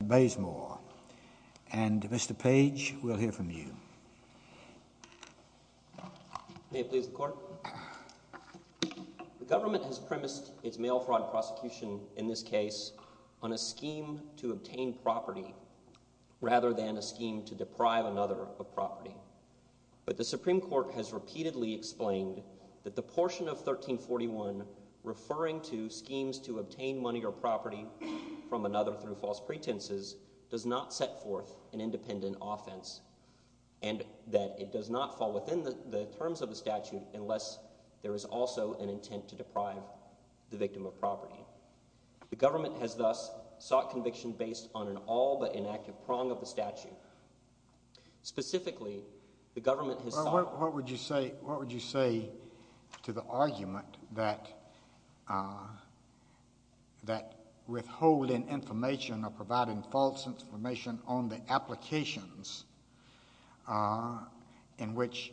And Mr. Page, we'll hear from you. May it please the Court? The Government has premised its mail fraud prosecution in this case on a scheme to obtain property rather than a scheme to deprive another of property. But the Supreme Court has repeatedly explained that the portion of 1341 referring to schemes to obtain money or property from another through false pretenses does not set forth an independent offense and that it does not fall within the terms of the statute unless there is also an intent to deprive the victim of property. The Government has thus sought conviction based on an all-but-inactive prong of the statute. Specifically, the Government has sought... Well, what would you say to the argument that withholding information or providing false information on the applications in which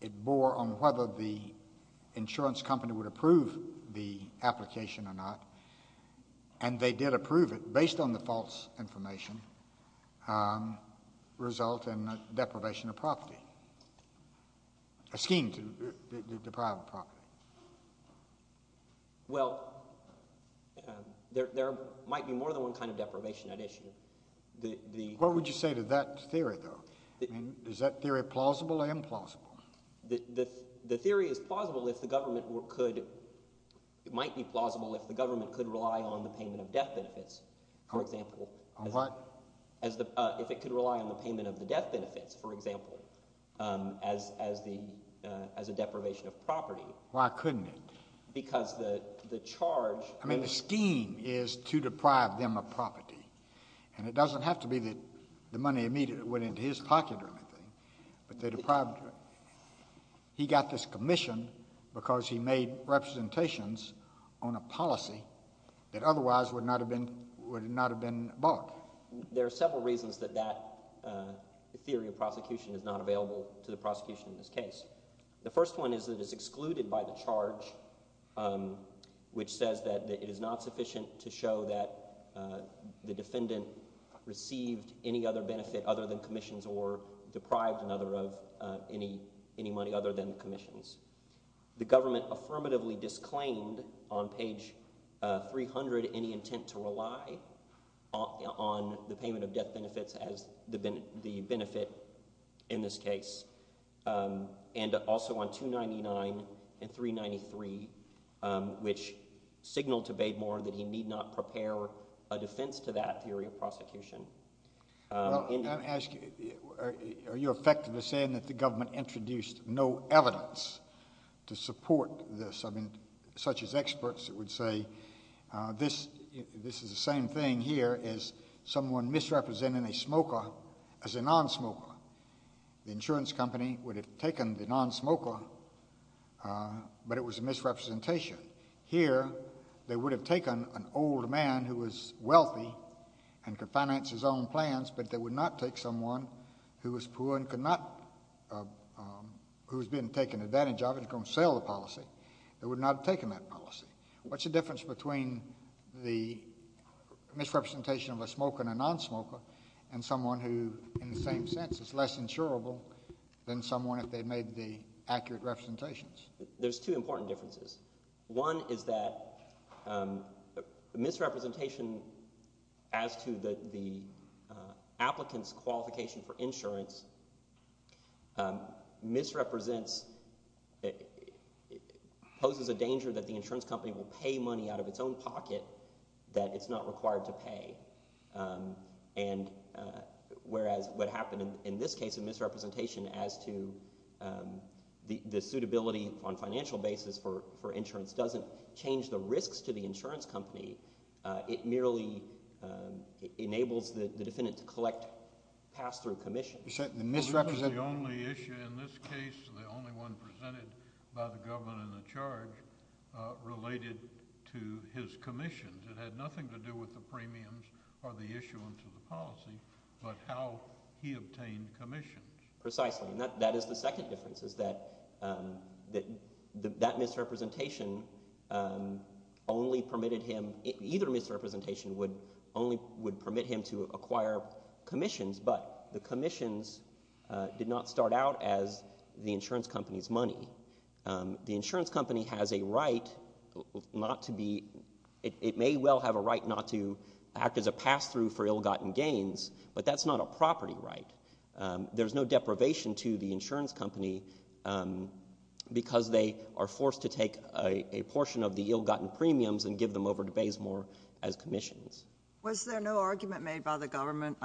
it bore on whether the insurance company would approve the application or not, and they did approve it based on the false information, result in deprivation of property, a scheme to deprive of property? Well, there might be more than one kind of deprivation at issue. What would you say to that theory, though? I mean, is that theory plausible or implausible? The theory is plausible if the Government could— it might be plausible if the Government could rely on the payment of death benefits, for example. On what? If it could rely on the payment of the death benefits, for example, as a deprivation of property. Why couldn't it? Because the charge— I mean, the scheme is to deprive them of property. And it doesn't have to be that the money immediately went into his pocket or anything, but they deprived him. He got this commission because he made representations on a policy that otherwise would not have been bought. There are several reasons that that theory of prosecution is not available to the prosecution in this case. The first one is that it is excluded by the charge, which says that it is not sufficient to show that the defendant received any other benefit other than commissions or deprived another of any money other than the commissions. The Government affirmatively disclaimed on page 300 any intent to rely on the payment of death benefits as the benefit in this case. And also on 299 and 393, which signaled to Bademore that he need not prepare a defense to that theory of prosecution. Well, I'm going to ask you, are you effective in saying that the Government introduced no evidence to support this? I mean, such as experts that would say this is the same thing here as someone misrepresenting a smoker as a non-smoker. The insurance company would have taken the non-smoker, but it was a misrepresentation. Here, they would have taken an old man who was wealthy and could finance his own plans, but they would not take someone who was poor and could not, who was being taken advantage of and was going to sell the policy. They would not have taken that policy. What's the difference between the misrepresentation of a smoker and a non-smoker and someone who, in the same sense, is less insurable than someone if they made the accurate representations? There's two important differences. One is that misrepresentation as to the applicant's qualification for insurance misrepresents, poses a danger that the insurance company will pay money out of its own pocket that it's not required to pay. And whereas what happened in this case of misrepresentation as to the suitability on a financial basis for insurance doesn't change the risks to the insurance company. It merely enables the defendant to collect pass-through commissions. This is the only issue in this case, the only one presented by the government in the charge related to his commissions. It had nothing to do with the premiums or the issuance of the policy, but how he obtained commissions. Precisely, and that is the second difference, is that that misrepresentation only permitted him, either misrepresentation would permit him to acquire commissions, but the commissions did not start out as the insurance company's money. The insurance company has a right not to be, it may well have a right not to act as a pass-through for ill-gotten gains, but that's not a property right. There's no deprivation to the insurance company because they are forced to take a portion of the ill-gotten premiums and give them over to Baysmore as commissions. Was there no argument made by the government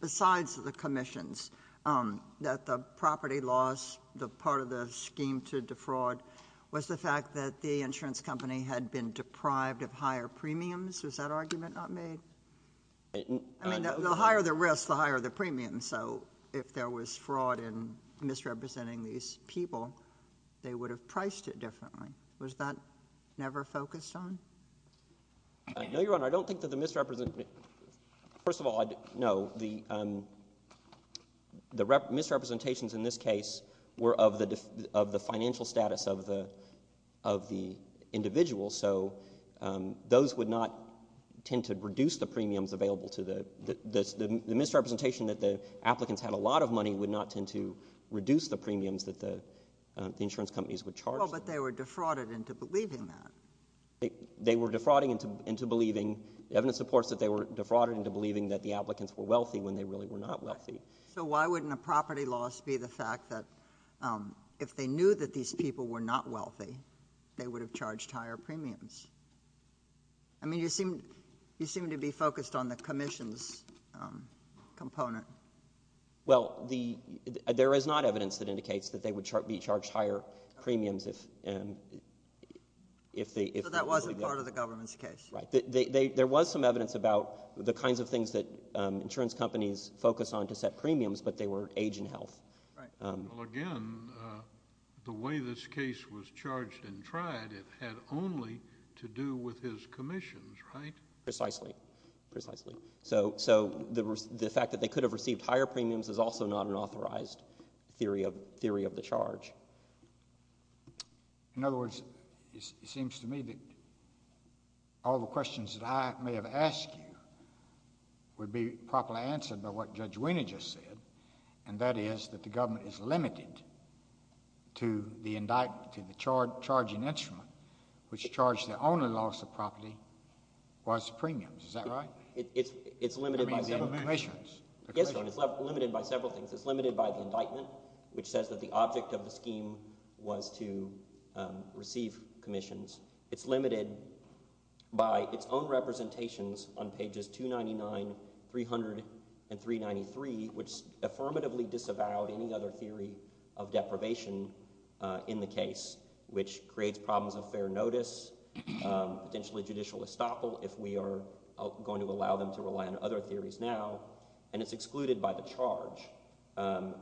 besides the commissions that the property loss, the part of the scheme to defraud, was the fact that the insurance company had been deprived of higher premiums? Was that argument not made? I mean, the higher the risk, the higher the premium, so if there was fraud in misrepresenting these people, they would have priced it differently. Was that never focused on? No, Your Honor, I don't think that the misrepresentation, first of all, no, the misrepresentations in this case were of the financial status of the individual, so those would not tend to reduce the premiums available to the, the misrepresentation that the applicants had a lot of money would not tend to reduce the premiums that the insurance companies would charge. Well, but they were defrauded into believing that. They were defrauding into believing, the evidence supports that they were defrauding into believing that the applicants were wealthy when they really were not wealthy. So why wouldn't a property loss be the fact that if they knew that these people were not wealthy, they would have charged higher premiums? I mean, you seem, you seem to be focused on the commissions component. Well, the, there is not evidence that indicates that they would be charged higher premiums if, if the, if the. So that wasn't part of the government's case. Right, there was some evidence about the kinds of things that insurance companies focus on to set premiums, but they were age and health. Well, again, the way this case was charged and tried, it had only to do with his commissions, right? Precisely, precisely. So, so the fact that they could have received higher premiums is also not an authorized theory of, theory of the charge. In other words, it seems to me that all the questions that I may have asked you would be properly answered by what Judge Wiener just said, and that is that the government is limited to the indictment, to the charging instrument, which charged the only loss of property was the premiums. Is that right? It's, it's limited by the commissions. Yes, Your Honor, it's limited by several things. It's limited by the indictment, which says that the object of the scheme was to receive commissions. It's limited by its own representations on pages 299, 300, and 393, which affirmatively disavowed any other theory of deprivation in the case, which creates problems of fair notice, potentially judicial estoppel if we are going to allow them to rely on other theories now. And it's excluded by the charge,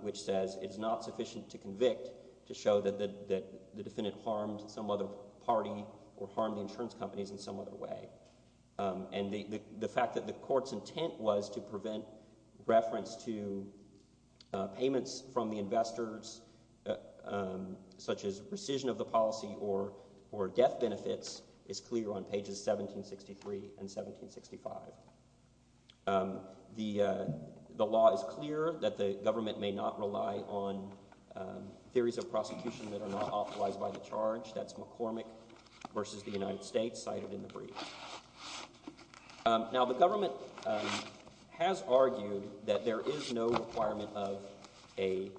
which says it's not sufficient to convict to show that the defendant harmed some other party or harmed the insurance companies in some other way. And the fact that the court's intent was to prevent reference to payments from the investors such as rescission of the policy or death benefits is clear on pages 1763 and 1765. The law is clear that the government may not rely on theories of prosecution that are not authorized by the charge. That's McCormick versus the United States cited in the brief. Now, the government has argued that there is no requirement of an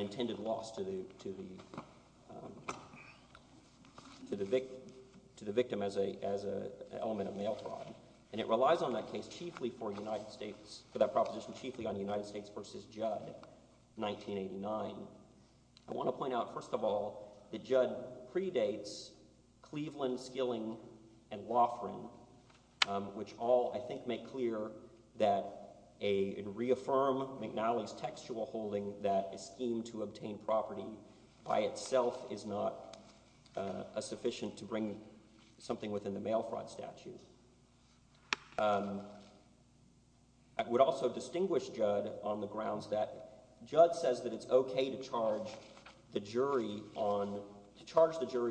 intended loss to the victim as an element of mail fraud. And it relies on that proposition chiefly on United States versus Judd, 1989. I want to point out, first of all, that Judd predates Cleveland, Skilling, and Loughran, which all, I think, make clear that a reaffirm McNally's textual holding that a scheme to obtain property by itself is not sufficient to bring something within the mail fraud statute. I would also distinguish Judd on the grounds that Judd says that it's okay to charge the jury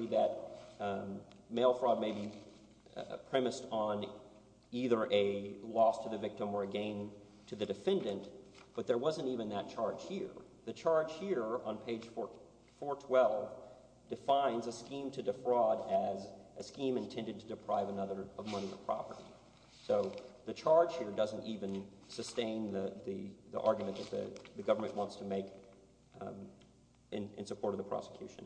that mail fraud may be premised on either a loss to the victim or a gain to the defendant, but there wasn't even that charge here. The charge here on page 412 defines a scheme to defraud as a scheme intended to deprive another of money or property. So the charge here doesn't even sustain the argument that the government wants to make in support of the prosecution.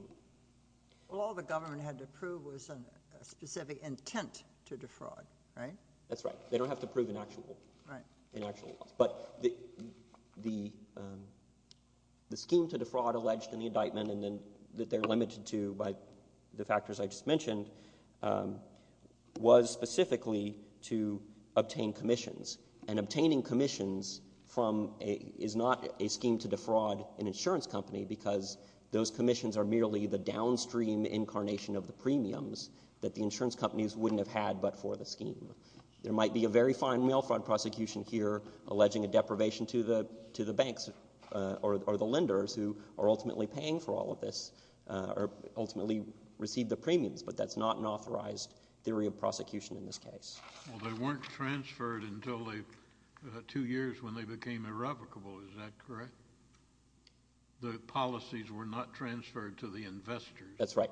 Well, all the government had to prove was a specific intent to defraud, right? That's right. They don't have to prove an actual loss. But the scheme to defraud alleged in the indictment that they're limited to by the factors I just mentioned was specifically to obtain commissions. And obtaining commissions is not a scheme to defraud an insurance company because those commissions are merely the downstream incarnation of the premiums that the insurance companies wouldn't have had but for the scheme. There might be a very fine mail fraud prosecution here alleging a deprivation to the banks or the lenders who are ultimately paying for all of this or ultimately receive the premiums, but that's not an authorized theory of prosecution in this case. Well, they weren't transferred until two years when they became irrevocable. Is that correct? The policies were not transferred to the investors. That's right.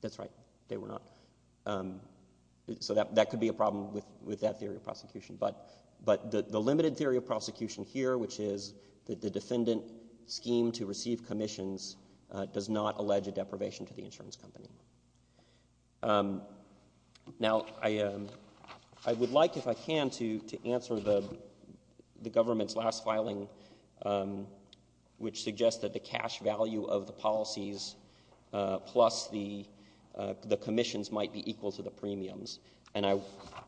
That's right. They were not. So that could be a problem with that theory of prosecution. But the limited theory of prosecution here, which is that the defendant's scheme to receive commissions does not allege a deprivation to the insurance company. Now, I would like, if I can, to answer the government's last filing, which suggests that the cash value of the policies plus the commissions might be equal to the premiums. And I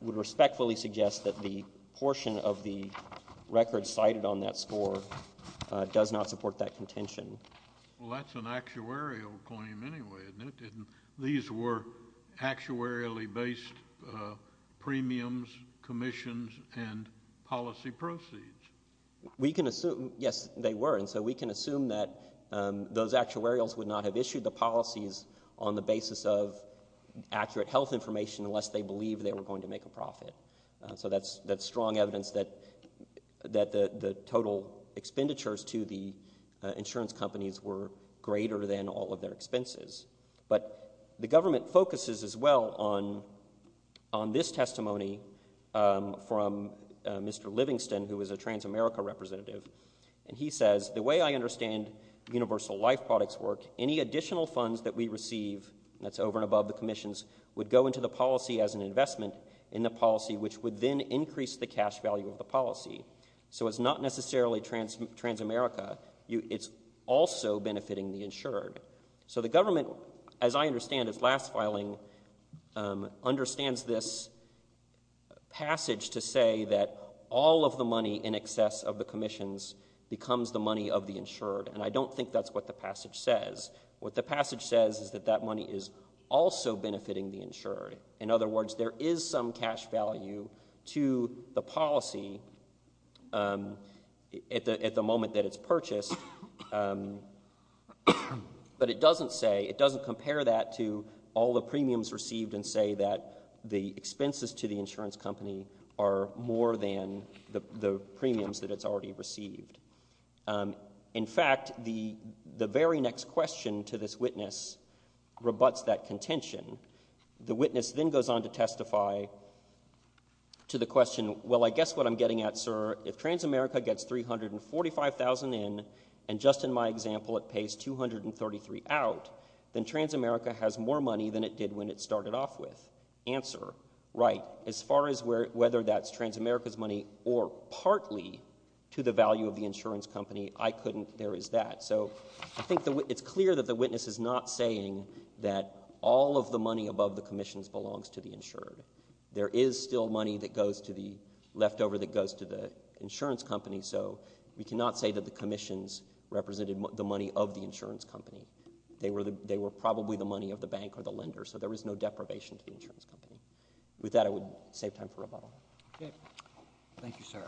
would respectfully suggest that the portion of the record cited on that score does not support that contention. Well, that's an actuarial claim anyway, isn't it? These were actuarially based premiums, commissions, and policy proceeds. Yes, they were. And so we can assume that those actuarials would not have issued the policies on the basis of accurate health information unless they believed they were going to make a profit. So that's strong evidence that the total expenditures to the insurance companies were greater than all of their expenses. But the government focuses as well on this testimony from Mr. Livingston, who is a Transamerica representative. And he says, the way I understand Universal Life Products work, any additional funds that we receive, that's over and above the commissions, would go into the policy as an investment in the policy, which would then increase the cash value of the policy. So it's not necessarily Transamerica. It's also benefiting the insured. So the government, as I understand its last filing, understands this passage to say that all of the money in excess of the commissions becomes the money of the insured. And I don't think that's what the passage says. What the passage says is that that money is also benefiting the insured. In other words, there is some cash value to the policy at the moment that it's purchased. But it doesn't say, it doesn't compare that to all the premiums received and say that the expenses to the insurance company are more than the premiums that it's already received. In fact, the very next question to this witness rebuts that contention. The witness then goes on to testify to the question, well, I guess what I'm getting at, sir, if Transamerica gets $345,000 in, and just in my example it pays $233,000 out, then Transamerica has more money than it did when it started off with. The answer, right, as far as whether that's Transamerica's money or partly to the value of the insurance company, I couldn't, there is that. So I think it's clear that the witness is not saying that all of the money above the commissions belongs to the insured. There is still money that goes to the, leftover that goes to the insurance company, so we cannot say that the commissions represented the money of the insurance company. They were probably the money of the bank or the lender, so there was no deprivation to the insurance company. With that, I would save time for rebuttal. Okay. Thank you, sir.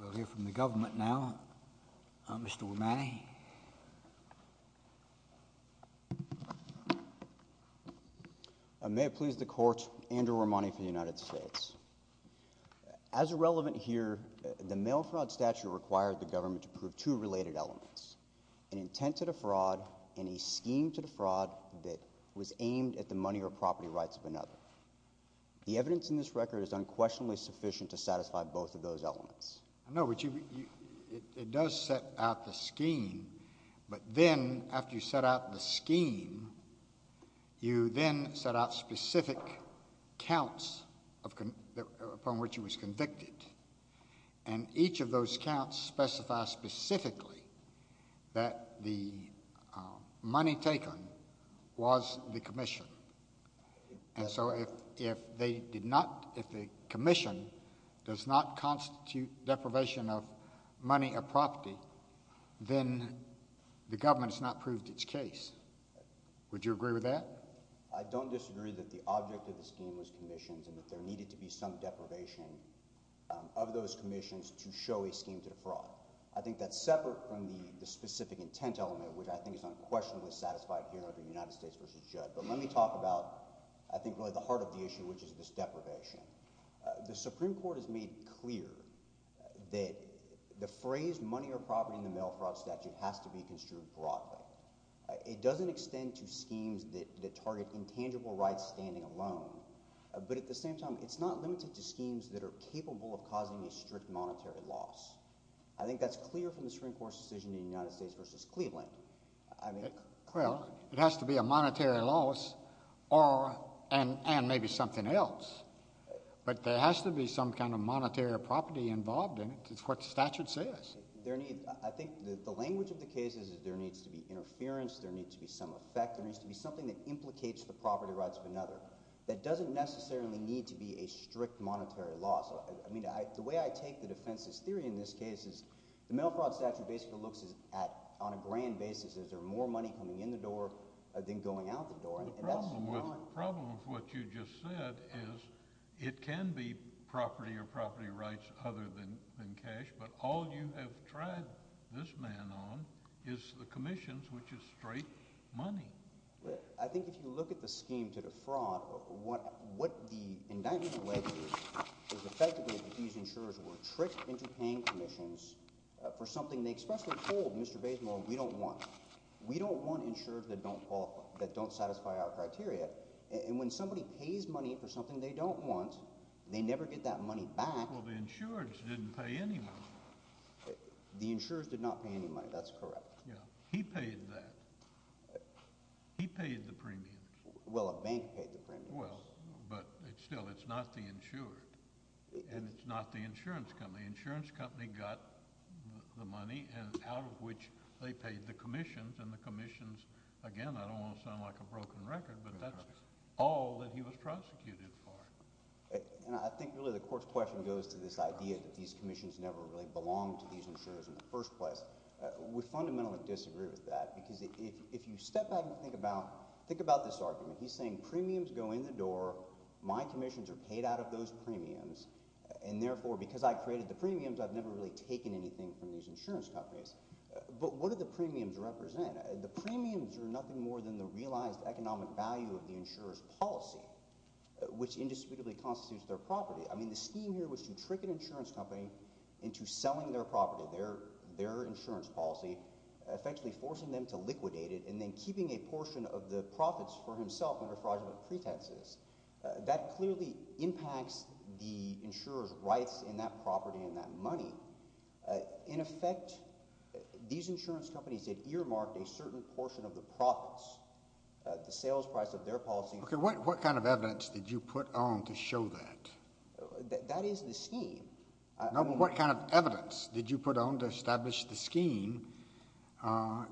We'll hear from the government now. Mr. Romani. May it please the Court, Andrew Romani for the United States. As irrelevant here, the mail fraud statute required the government to prove two related elements, an intent to defraud, and a scheme to defraud that was aimed at the money or property rights of another. The evidence in this record is unquestionably sufficient to satisfy both of those elements. I know, but you, it does set out the scheme, but then after you set out the scheme, you then set out specific counts upon which he was convicted, and each of those counts specifies specifically that the money taken was the commission, and so if the commission does not constitute deprivation of money or property, then the government has not proved its case. Would you agree with that? I don't disagree that the object of the scheme was commissions and that there needed to be some deprivation of those commissions to show a scheme to defraud. I think that's separate from the specific intent element, which I think is unquestionably satisfied here under United States v. Judd, but let me talk about I think really the heart of the issue, which is this deprivation. The Supreme Court has made clear that the phrase money or property in the mail fraud statute has to be construed broadly. It doesn't extend to schemes that target intangible rights standing alone, but at the same time, it's not limited to schemes that are capable of causing a strict monetary loss. I think that's clear from the Supreme Court's decision in United States v. Cleveland. Well, it has to be a monetary loss and maybe something else, but there has to be some kind of monetary property involved in it. It's what the statute says. I think the language of the case is there needs to be interference, there needs to be some effect, there needs to be something that implicates the property rights of another that doesn't necessarily need to be a strict monetary loss. I mean, the way I take the defense's theory in this case is the mail fraud statute basically looks at on a grand basis. Is there more money coming in the door than going out the door? The problem with what you just said is it can be property or property rights other than cash, but all you have tried this man on is the commissions, which is straight money. I think if you look at the scheme to defraud, what the indictment alleges is effectively that these insurers were tricked into paying commissions for something they expressly told Mr. Bazemore we don't want. We don't want insurers that don't qualify, that don't satisfy our criteria, and when somebody pays money for something they don't want, they never get that money back. Well, the insurers didn't pay any money. The insurers did not pay any money, that's correct. Yeah, he paid that. He paid the premium. Well, a bank paid the premium. Well, but still, it's not the insurer, and it's not the insurance company. The insurance company got the money, out of which they paid the commissions, and the commissions, again, I don't want to sound like a broken record, but that's all that he was prosecuted for. And I think really the court's question goes to this idea that these commissions never really belonged to these insurers in the first place. We fundamentally disagree with that, because if you step back and think about this argument, he's saying premiums go in the door, my commissions are paid out of those premiums, and therefore, because I created the premiums, I've never really taken anything from these insurance companies. But what do the premiums represent? The premiums are nothing more than the realized economic value of the insurer's policy, which indisputably constitutes their property. I mean, the scheme here was to trick an insurance company into selling their property, their insurance policy, effectively forcing them to liquidate it, and then keeping a portion of the profits for himself under fraudulent pretenses. That clearly impacts the insurer's rights in that property and that money. In effect, these insurance companies had earmarked a certain portion of the profits, the sales price of their policy. Okay, what kind of evidence did you put on to show that? That is the scheme. No, but what kind of evidence did you put on to establish the scheme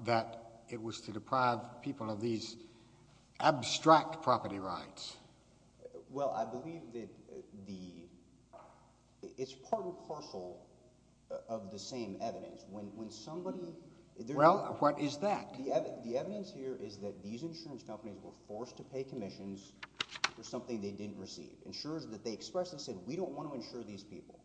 that it was to deprive people of these abstract property rights? Well, I believe that the... It's part and parcel of the same evidence. When somebody... Well, what is that? The evidence here is that these insurance companies were forced to pay commissions for something they didn't receive. Insurers that they expressed and said, we don't want to insure these people.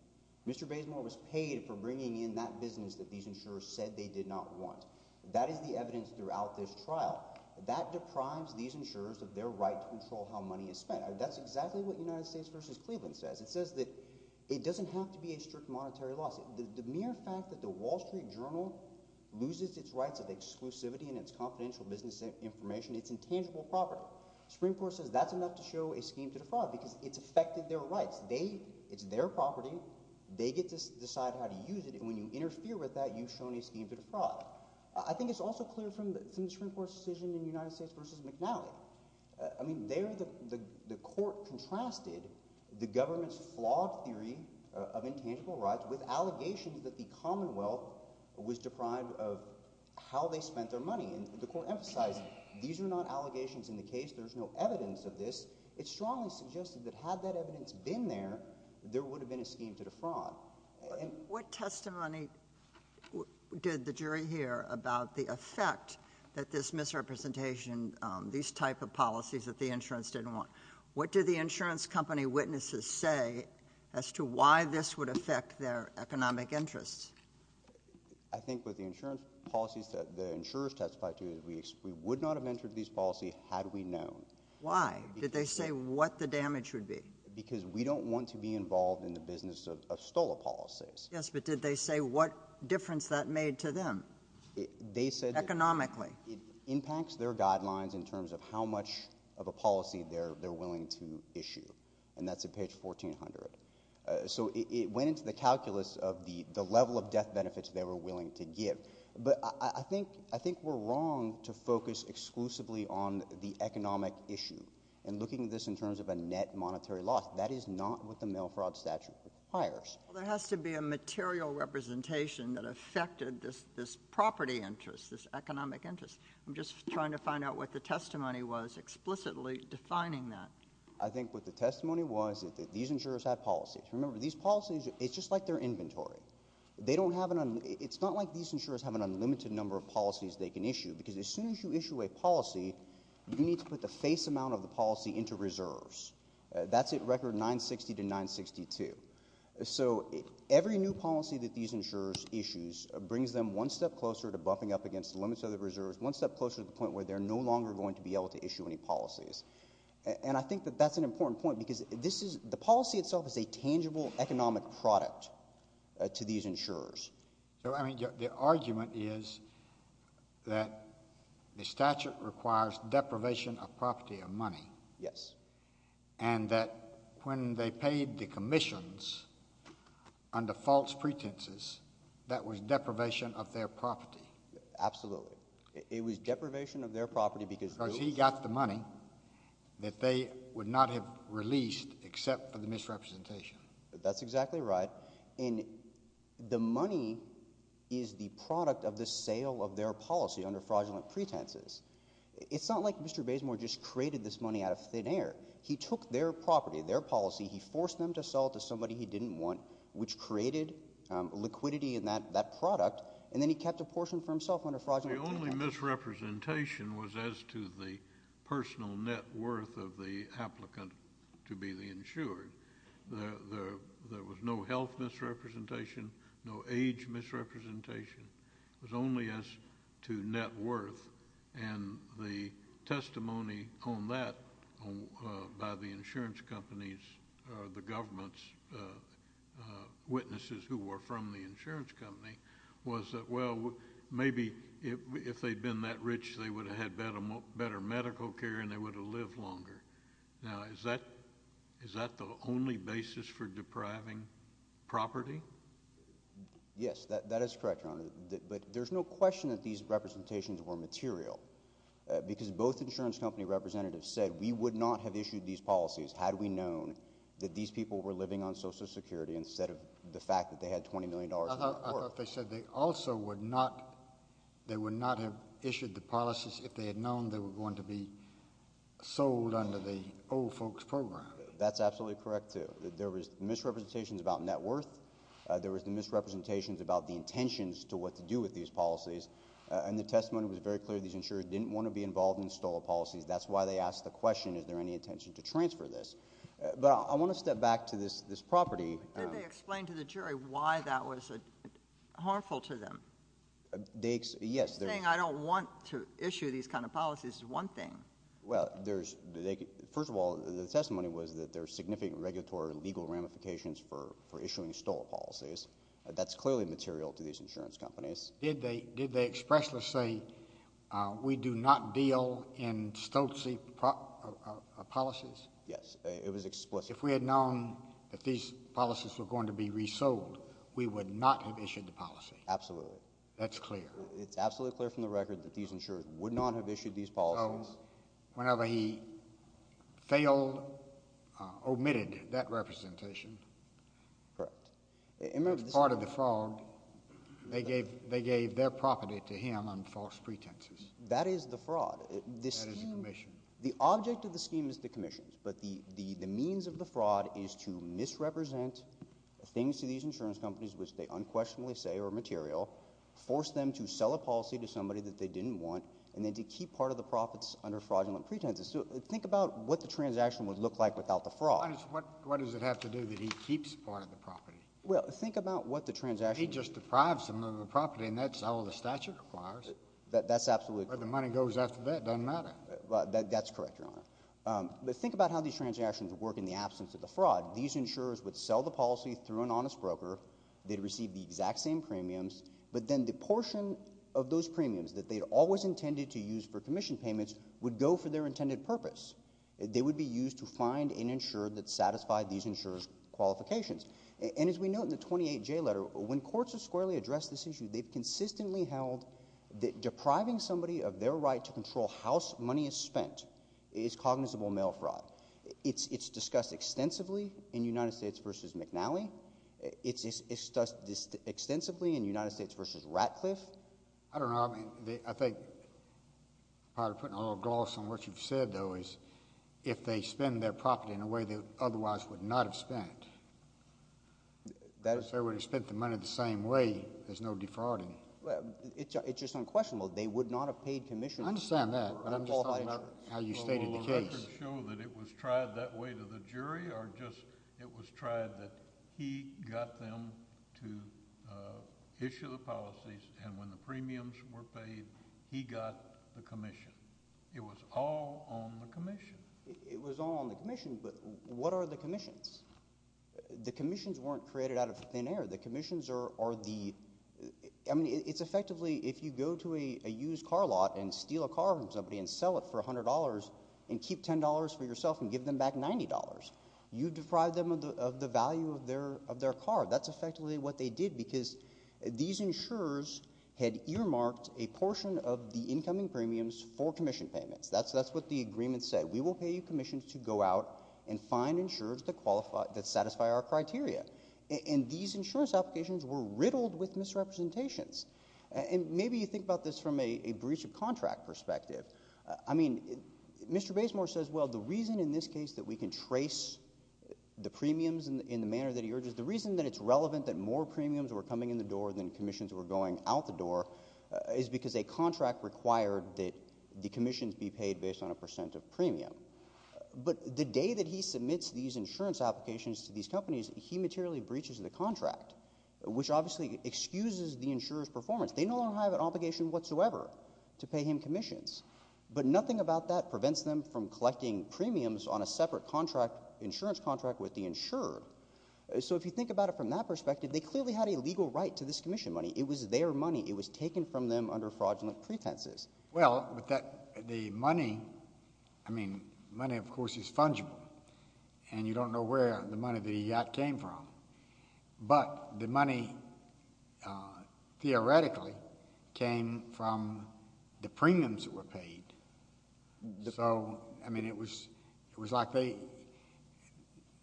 Mr. Bazemore was paid for bringing in that business that he did not want. That is the evidence throughout this trial. That deprives these insurers of their right to control how money is spent. That's exactly what United States v. Cleveland says. It says that it doesn't have to be a strict monetary lawsuit. The mere fact that the Wall Street Journal loses its rights of exclusivity and its confidential business information, it's intangible property. Supreme Court says that's enough to show a scheme to defraud because it's affected their rights. It's their property. They get to decide how to use it. And when you interfere with that, you've shown a scheme to defraud. I think it's also clear from the Supreme Court's decision in United States v. McNally. I mean, there the court contrasted the government's flawed theory of intangible rights with allegations that the Commonwealth was deprived of how they spent their money. And the court emphasized, these are not allegations in the case. There's no evidence of this. It strongly suggested that had that evidence been there, there would have been a scheme to defraud. What testimony did the jury hear about the effect that this misrepresentation, these type of policies that the insurance didn't want? What did the insurance company witnesses say as to why this would affect their economic interests? I think with the insurance policies that the insurers testified to, we would not have entered these policies had we known. Why? Did they say what the damage would be? Because we don't want to be involved in the business of stolen policies. Yes, but did they say what difference that made to them? They said... Economically. It impacts their guidelines in terms of how much of a policy they're willing to issue. And that's at page 1400. So it went into the calculus of the level of death benefits they were willing to give. But I think we're wrong to focus exclusively on the economic issue. And looking at this in terms of a net monetary loss, that is not what the mail fraud statute requires. Well, there has to be a material representation that affected this property interest, this economic interest. I'm just trying to find out what the testimony was explicitly defining that. I think what the testimony was is that these insurers had policies. Remember, these policies, it's just like their inventory. It's not like these insurers have an unlimited number of policies they can issue. Because as soon as you issue a policy, you need to put the face amount of the policy into reserves. That's at record 960 to 962. So every new policy that these insurers issue brings them one step closer to buffing up against the limits of the reserves, one step closer to the point where they're no longer going to be able to issue any policies. And I think that that's an important point because the policy itself is a tangible economic product to these insurers. So, I mean, the argument is that the statute requires deprivation of property or money. Yes. And that when they paid the commissions under false pretenses, that was deprivation of their property. Absolutely. It was deprivation of their property because... Because he got the money that they would not have released except for the misrepresentation. That's exactly right. And the money is the product of the sale of their policy under fraudulent pretenses. It's not like Mr. Bazemore had a thin air. He took their property, their policy, he forced them to sell it to somebody he didn't want, which created liquidity in that product, and then he kept a portion for himself under fraudulent... The only misrepresentation was as to the personal net worth of the applicant to be the insured. There was no health misrepresentation, no age misrepresentation. It was only as to net worth. And the testimony on that by the insurance companies or the government's witnesses who were from the insurance company was that, well, maybe if they'd been that rich, they would have had better medical care and they would have lived longer. Now, is that the only basis for depriving property? Yes, that is correct, Your Honor. But there's no question that these representations were material, because both insurance company representatives said we would not have issued these policies had we known that these people were living on Social Security instead of the fact that they had $20 million worth. I thought they said they also would not, they would not have issued the policies if they had known they were going to be sold under the old folks program. That's absolutely correct, too. There was misrepresentations about net worth. There was misrepresentations about the intentions to what to do with these policies. And the testimony was very clear. These insurers didn't want to be involved in stolen policies. That's why they asked the question, is there any intention to transfer this? But I want to step back to this property. Did they explain to the jury why that was harmful to them? They, yes. Saying I don't want to issue these kind of policies is one thing. Well, there's, first of all, the testimony was that there are significant regulatory and legal ramifications for issuing stolen policies. Yes, insurance companies. Did they expressly say, we do not deal in stolen policies? Yes, it was explicit. If we had known that these policies were going to be resold, we would not have issued the policy. Absolutely. That's clear. It's absolutely clear from the record that these insurers would not have issued these policies. So whenever he failed, omitted that representation. Correct. They gave their property to him on false pretenses. That is the fraud. That is the commission. The object of the scheme is the commissions, but the means of the fraud is to misrepresent things to these insurance companies which they unquestionably say are material, force them to sell a policy to somebody that they didn't want, and then to keep part of the profits under fraudulent pretenses. So think about what the transaction would look like without the fraud. What does it have to do that he keeps part of the property? Well, think about what the transaction... He just deprives them of the property, and that's all the statute requires. That's absolutely correct. Where the money goes after that doesn't matter. That's correct, Your Honor. But think about how these transactions would work in the absence of the fraud. These insurers would sell the policy through an honest broker. They'd receive the exact same premiums, but then the portion of those premiums that they'd always intended to use for commission payments would go for their intended purpose. And we note in the 28J letter when courts have squarely addressed this issue, they've consistently held that depriving somebody of their right to control how money is spent is cognizable mail fraud. It's discussed extensively in United States v. McNally. It's discussed extensively in United States v. Ratcliffe. I don't know. I think probably putting a little gloss on what you've said, though, is if they spend their property in a way they otherwise would not have spent, because they would have spent the money the same way, there's no defrauding. It's just unquestionable. They would not have paid commission. I understand that. I'm just talking about how you stated the case. Will the record show that it was tried that way to the jury, or just it was tried that he got them to issue the policies, and when the premiums were paid, he got the commission? It was all on the commission. It was all on the commission, but what are the commissions? The commissions weren't created out of thin air. The commissions are the... I mean, it's effectively if you go to a used car lot and steal a car from somebody and sell it for $100 and keep $10 for yourself and give them back $90, you deprive them of the value of their car. That's effectively what they did because these insurers had earmarked a portion of the incoming premiums for commission payments. They didn't pay you commissions to go out and find insurers that satisfy our criteria, and these insurance applications were riddled with misrepresentations, and maybe you think about this from a breach of contract perspective. I mean, Mr. Basemore says, well, the reason in this case that we can trace the premiums in the manner that he urges, the reason that it's relevant that more premiums were coming in the door than commissions were going out the door is because a contract required a commission payment. But the day that he submits these insurance applications to these companies, he materially breaches the contract, which obviously excuses the insurer's performance. They no longer have an obligation whatsoever to pay him commissions, but nothing about that prevents them from collecting premiums on a separate insurance contract with the insurer. So if you think about it from that perspective, the money, of course, is fungible, and you don't know where the money that he got came from. But the money, theoretically, came from the premiums that were paid. So, I mean, it was like they...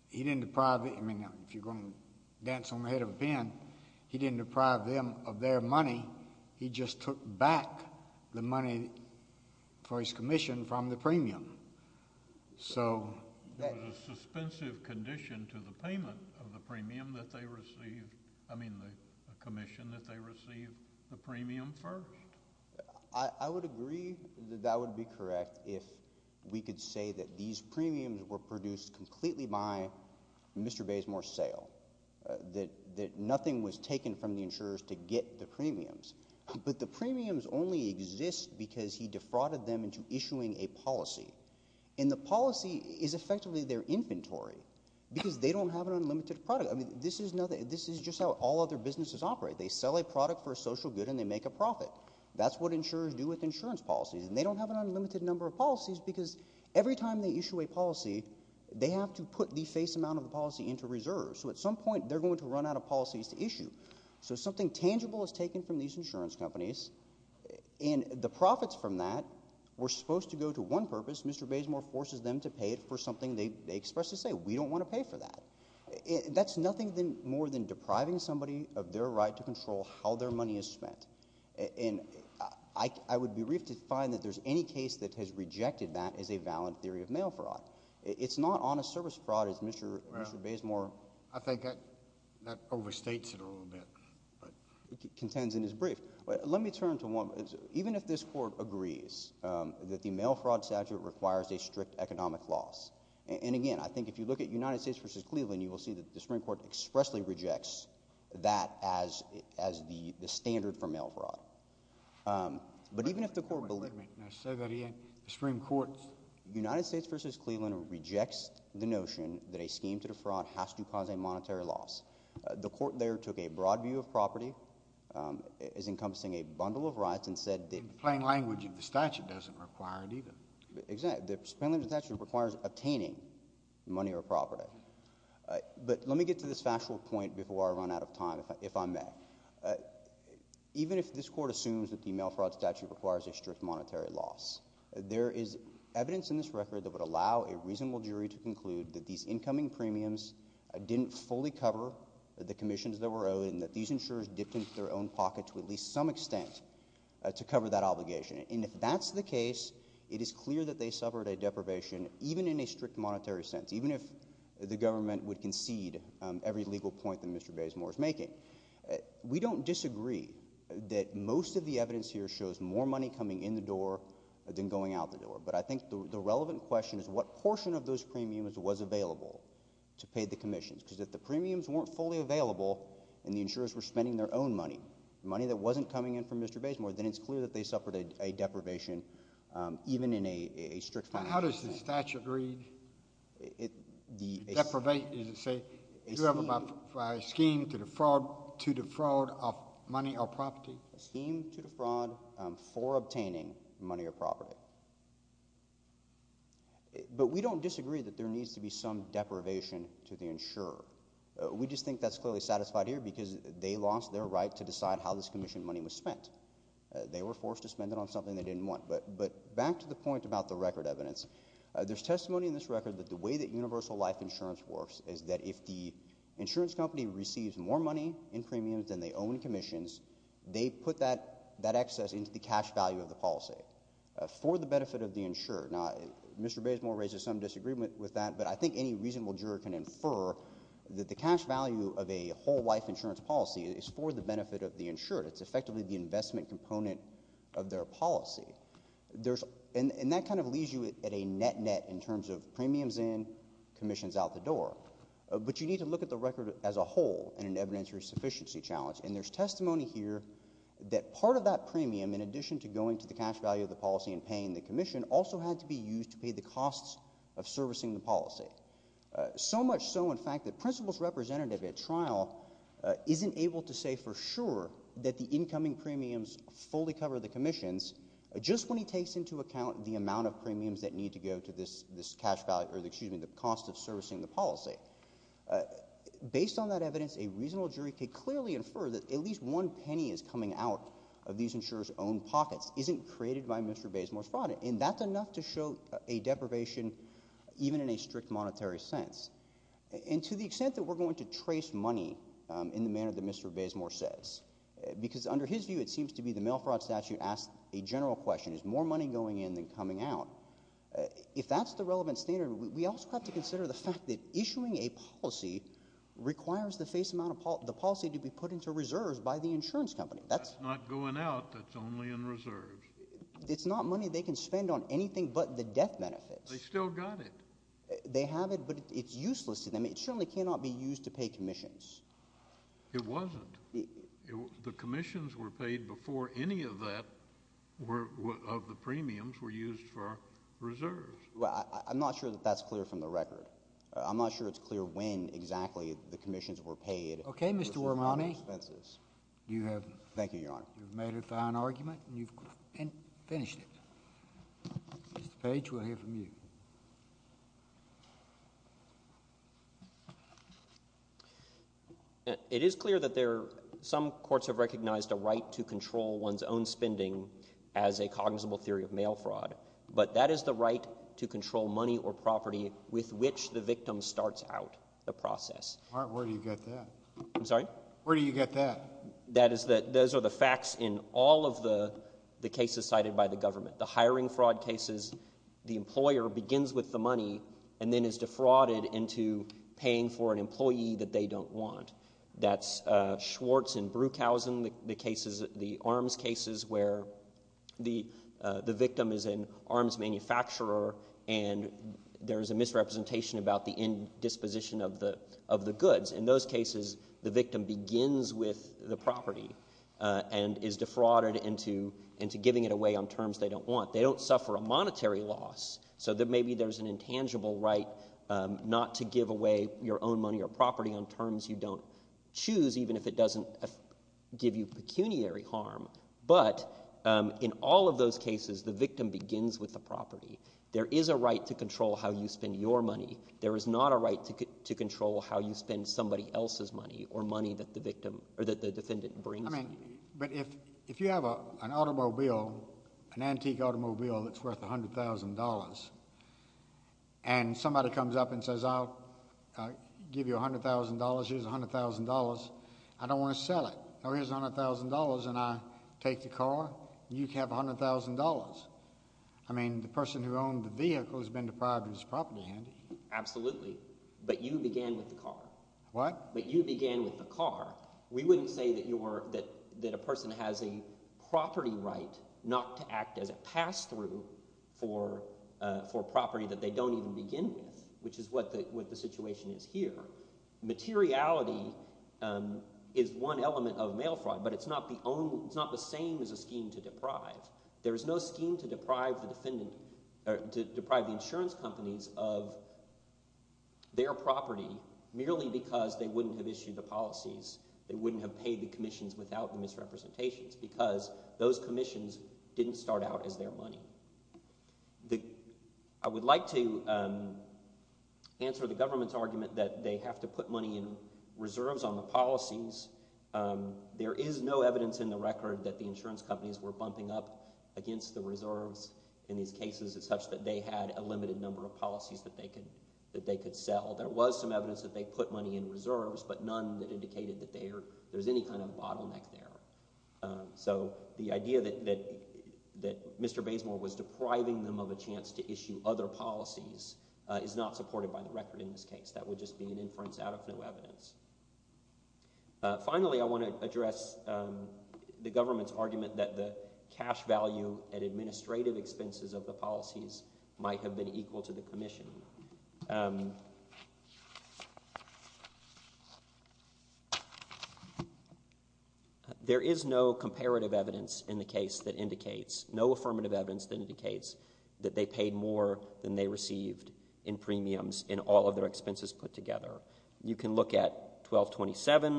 He didn't deprive... I mean, if you're going to dance on the head of a pin, he didn't deprive them of their money. He just took back the money for his commission from the premium. So... It was a suspensive condition to the payment of the premium that they received. I mean, the commission that they received the premium first. I would agree that that would be correct if we could say that these premiums were produced completely by Mr. Bazemore's sale, that nothing was taken from the insurers to get the premiums. But the premiums only exist because he defrauded them into issuing a policy. And the policy is effectively their inventory, because they don't have an unlimited product. I mean, this is just how all other businesses operate. They sell a product for a social good and they make a profit. That's what insurers do with insurance policies, and they don't have an unlimited number of policies because every time they issue a product from that, we're supposed to go to one purpose. Mr. Bazemore forces them to pay it for something they expressly say. We don't want to pay for that. That's nothing more than depriving somebody of their right to control how their money is spent. And I would be briefed to find that there's any case that has rejected that as a valid theory of mail fraud. It's not honest service fraud as Mr. Bazemore contends in his brief. Let me turn to one. Even if this court agrees that the mail fraud statute requires a strict economic loss, and again, I think if you look at United States v. Cleveland, you will see that the Supreme Court expressly rejects that as the standard for mail fraud. But even if the court believed it, United States v. Cleveland rejects the notion that a scheme to defraud has to cause a monetary loss. The court there took a case encompassing a bundle of rights and said that... In plain language, the statute doesn't require it either. Exactly. In plain language, the statute requires obtaining money or property. But let me get to this factual point before I run out of time, if I may. Even if this court assumes that the mail fraud statute requires a strict monetary loss, there is evidence in this record to some extent to cover that obligation. And if that's the case, it is clear that they suffered a deprivation, even in a strict monetary sense, even if the government would concede every legal point that Mr. Bazemore is making. We don't disagree that most of the evidence here shows more money coming in the door than going out the door. But I think the relevant question is what portion of those premiums are coming in from Mr. Bazemore. Then it's clear that they suffered a deprivation even in a strict monetary sense. How does the statute read? Deprivate, does it say? Do you have a scheme to defraud of money or property? A scheme to defraud for obtaining money or property. But we don't disagree that there needs to be some deprivation to the insurer. We just think that's clearly satisfied here because they lost their right to decide how this commission money was spent. They were forced to spend it on something they didn't want. But back to the point about the record evidence. There's testimony in this record that the way that universal life insurance works is that if the insurance company receives more money in premiums than they owe in commissions, they put that excess into the cash value of the policy for the benefit of the insurer. Now, Mr. Bazemore raises some disagreement with that, but I think any reasonable juror would agree that it's not the benefit of the insured. It's effectively the investment component of their policy. And that kind of leaves you at a net-net in terms of premiums in, commissions out the door. But you need to look at the record as a whole in an evidentiary sufficiency challenge, and there's testimony here that part of that premium, in addition to going to the cash value of the policy and paying the commission, also had to be used to pay the costs of servicing the policy. So much so, in fact, that the incoming premiums fully cover the commissions just when he takes into account the amount of premiums that need to go to the cost of servicing the policy. Based on that evidence, a reasonable jury could clearly infer that at least one penny is coming out of these insurers' own pockets isn't created by Mr. Bazemore's fraud, and that's enough to show a deprivation even in a strict monetary sense. And to the extent that we're going to trace money in the manner that Mr. Bazemore says, because under his view, it seems to be the mail fraud statute asks a general question. Is more money going in than coming out? If that's the relevant standard, we also have to consider the fact that issuing a policy requires the face amount of policy to be put into reserves by the insurance company. That's not going out. That's only in reserves. It's not money they can spend on anything but the death benefits. They still got it. They have it, but it's useless to them. And the commissions were paid before any of that, of the premiums, were used for reserves. I'm not sure that that's clear from the record. I'm not sure it's clear when exactly the commissions were paid. Okay, Mr. Armani. Thank you, Your Honor. You've made a fine argument, and you've finished it. Mr. Page, we'll hear from you. It is clear that there are people who have recognized a right to control one's own spending as a cognizable theory of mail fraud. But that is the right to control money or property with which the victim starts out the process. All right, where do you get that? I'm sorry? Where do you get that? Those are the facts in all of the cases cited by the government. The hiring fraud cases, the employer begins with the money and then is defrauded into paying for an employee that they don't want. And then there's the arms cases where the victim is an arms manufacturer and there's a misrepresentation about the indisposition of the goods. In those cases, the victim begins with the property and is defrauded into giving it away on terms they don't want. They don't suffer a monetary loss, so maybe there's an intangible right not to give away your own money or property on terms you don't choose, even if it doesn't give you pecuniary harm. But in all of those cases, the victim begins with the property. There is a right to control how you spend your money. There is not a right to control how you spend somebody else's money or money that the defendant brings. But if you have an automobile, an antique automobile that's worth $100,000, and somebody comes up and says, I'll give you $100,000, here's $100,000. I don't want to sell it. Here's $100,000 and I take the car. You can have $100,000. I mean, the person who owned the vehicle has been deprived of his property, hasn't he? Absolutely, but you began with the car. What? But you began with the car. We wouldn't say that a person has a property right not to act as a pass-through for property that they don't even begin with, which is what the situation is here. Materiality is one element of mail fraud, but it's not the same as a scheme to deprive. There is no scheme to deprive the insurance companies of their property merely because they wouldn't have issued the policies. They wouldn't have paid the commissions without the misrepresentations because those commissions didn't start out as their money. I would like to answer the government's argument that they have to put money in reserves on the policies. There is no evidence in the record that the insurance companies were bumping up against the reserves in these cases as such that they had a limited number of policies that they could sell. There was some evidence that they put money in reserves, but none that indicated that there was any kind of bottleneck there. So the idea that Mr. Basemore was depriving them of a chance to issue other policies is not supported by the record in this case. It would just be an inference out of no evidence. Finally, I want to address the government's argument that the cash value at administrative expenses of the policies might have been equal to the commission. There is no comparative evidence in the case that indicates, no affirmative evidence that indicates that they paid more than they received in premiums in all of their expenses put together. You can look at 1227,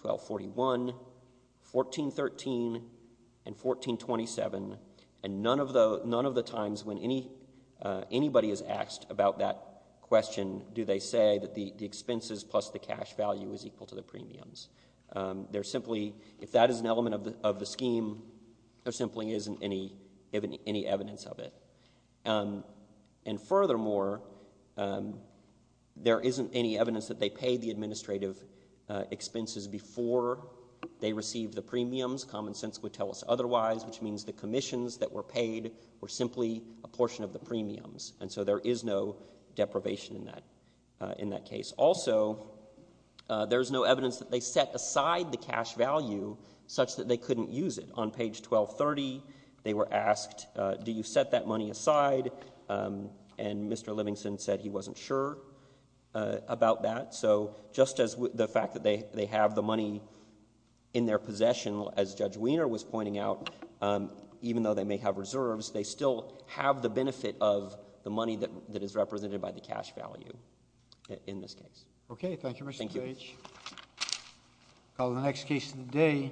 1241, 1413, and 1427, and none of the times when anybody is asked about that question do they say that the expenses plus the cash value is equal to the premiums. If that is an element of the scheme, there simply isn't any evidence of it. And furthermore, there isn't any evidence that they paid the administrative expenses before they received the premiums. Common sense would tell us otherwise, which means the commissions that were paid were simply a portion of the premiums, and so there is no deprivation in that case. Also, there's no evidence that they set aside the cash value such that they couldn't use it. On page 1230, they were asked, do you set that money aside? And Mr. Livingston said he wasn't sure about that. So just as the fact that they have the money in their possession, as Judge Wiener was pointing out, even though they may have reserves, they still have the benefit of the money that is represented by the cash value in this case. Okay. Thank you, Mr. Page. I'll call the next case of the day.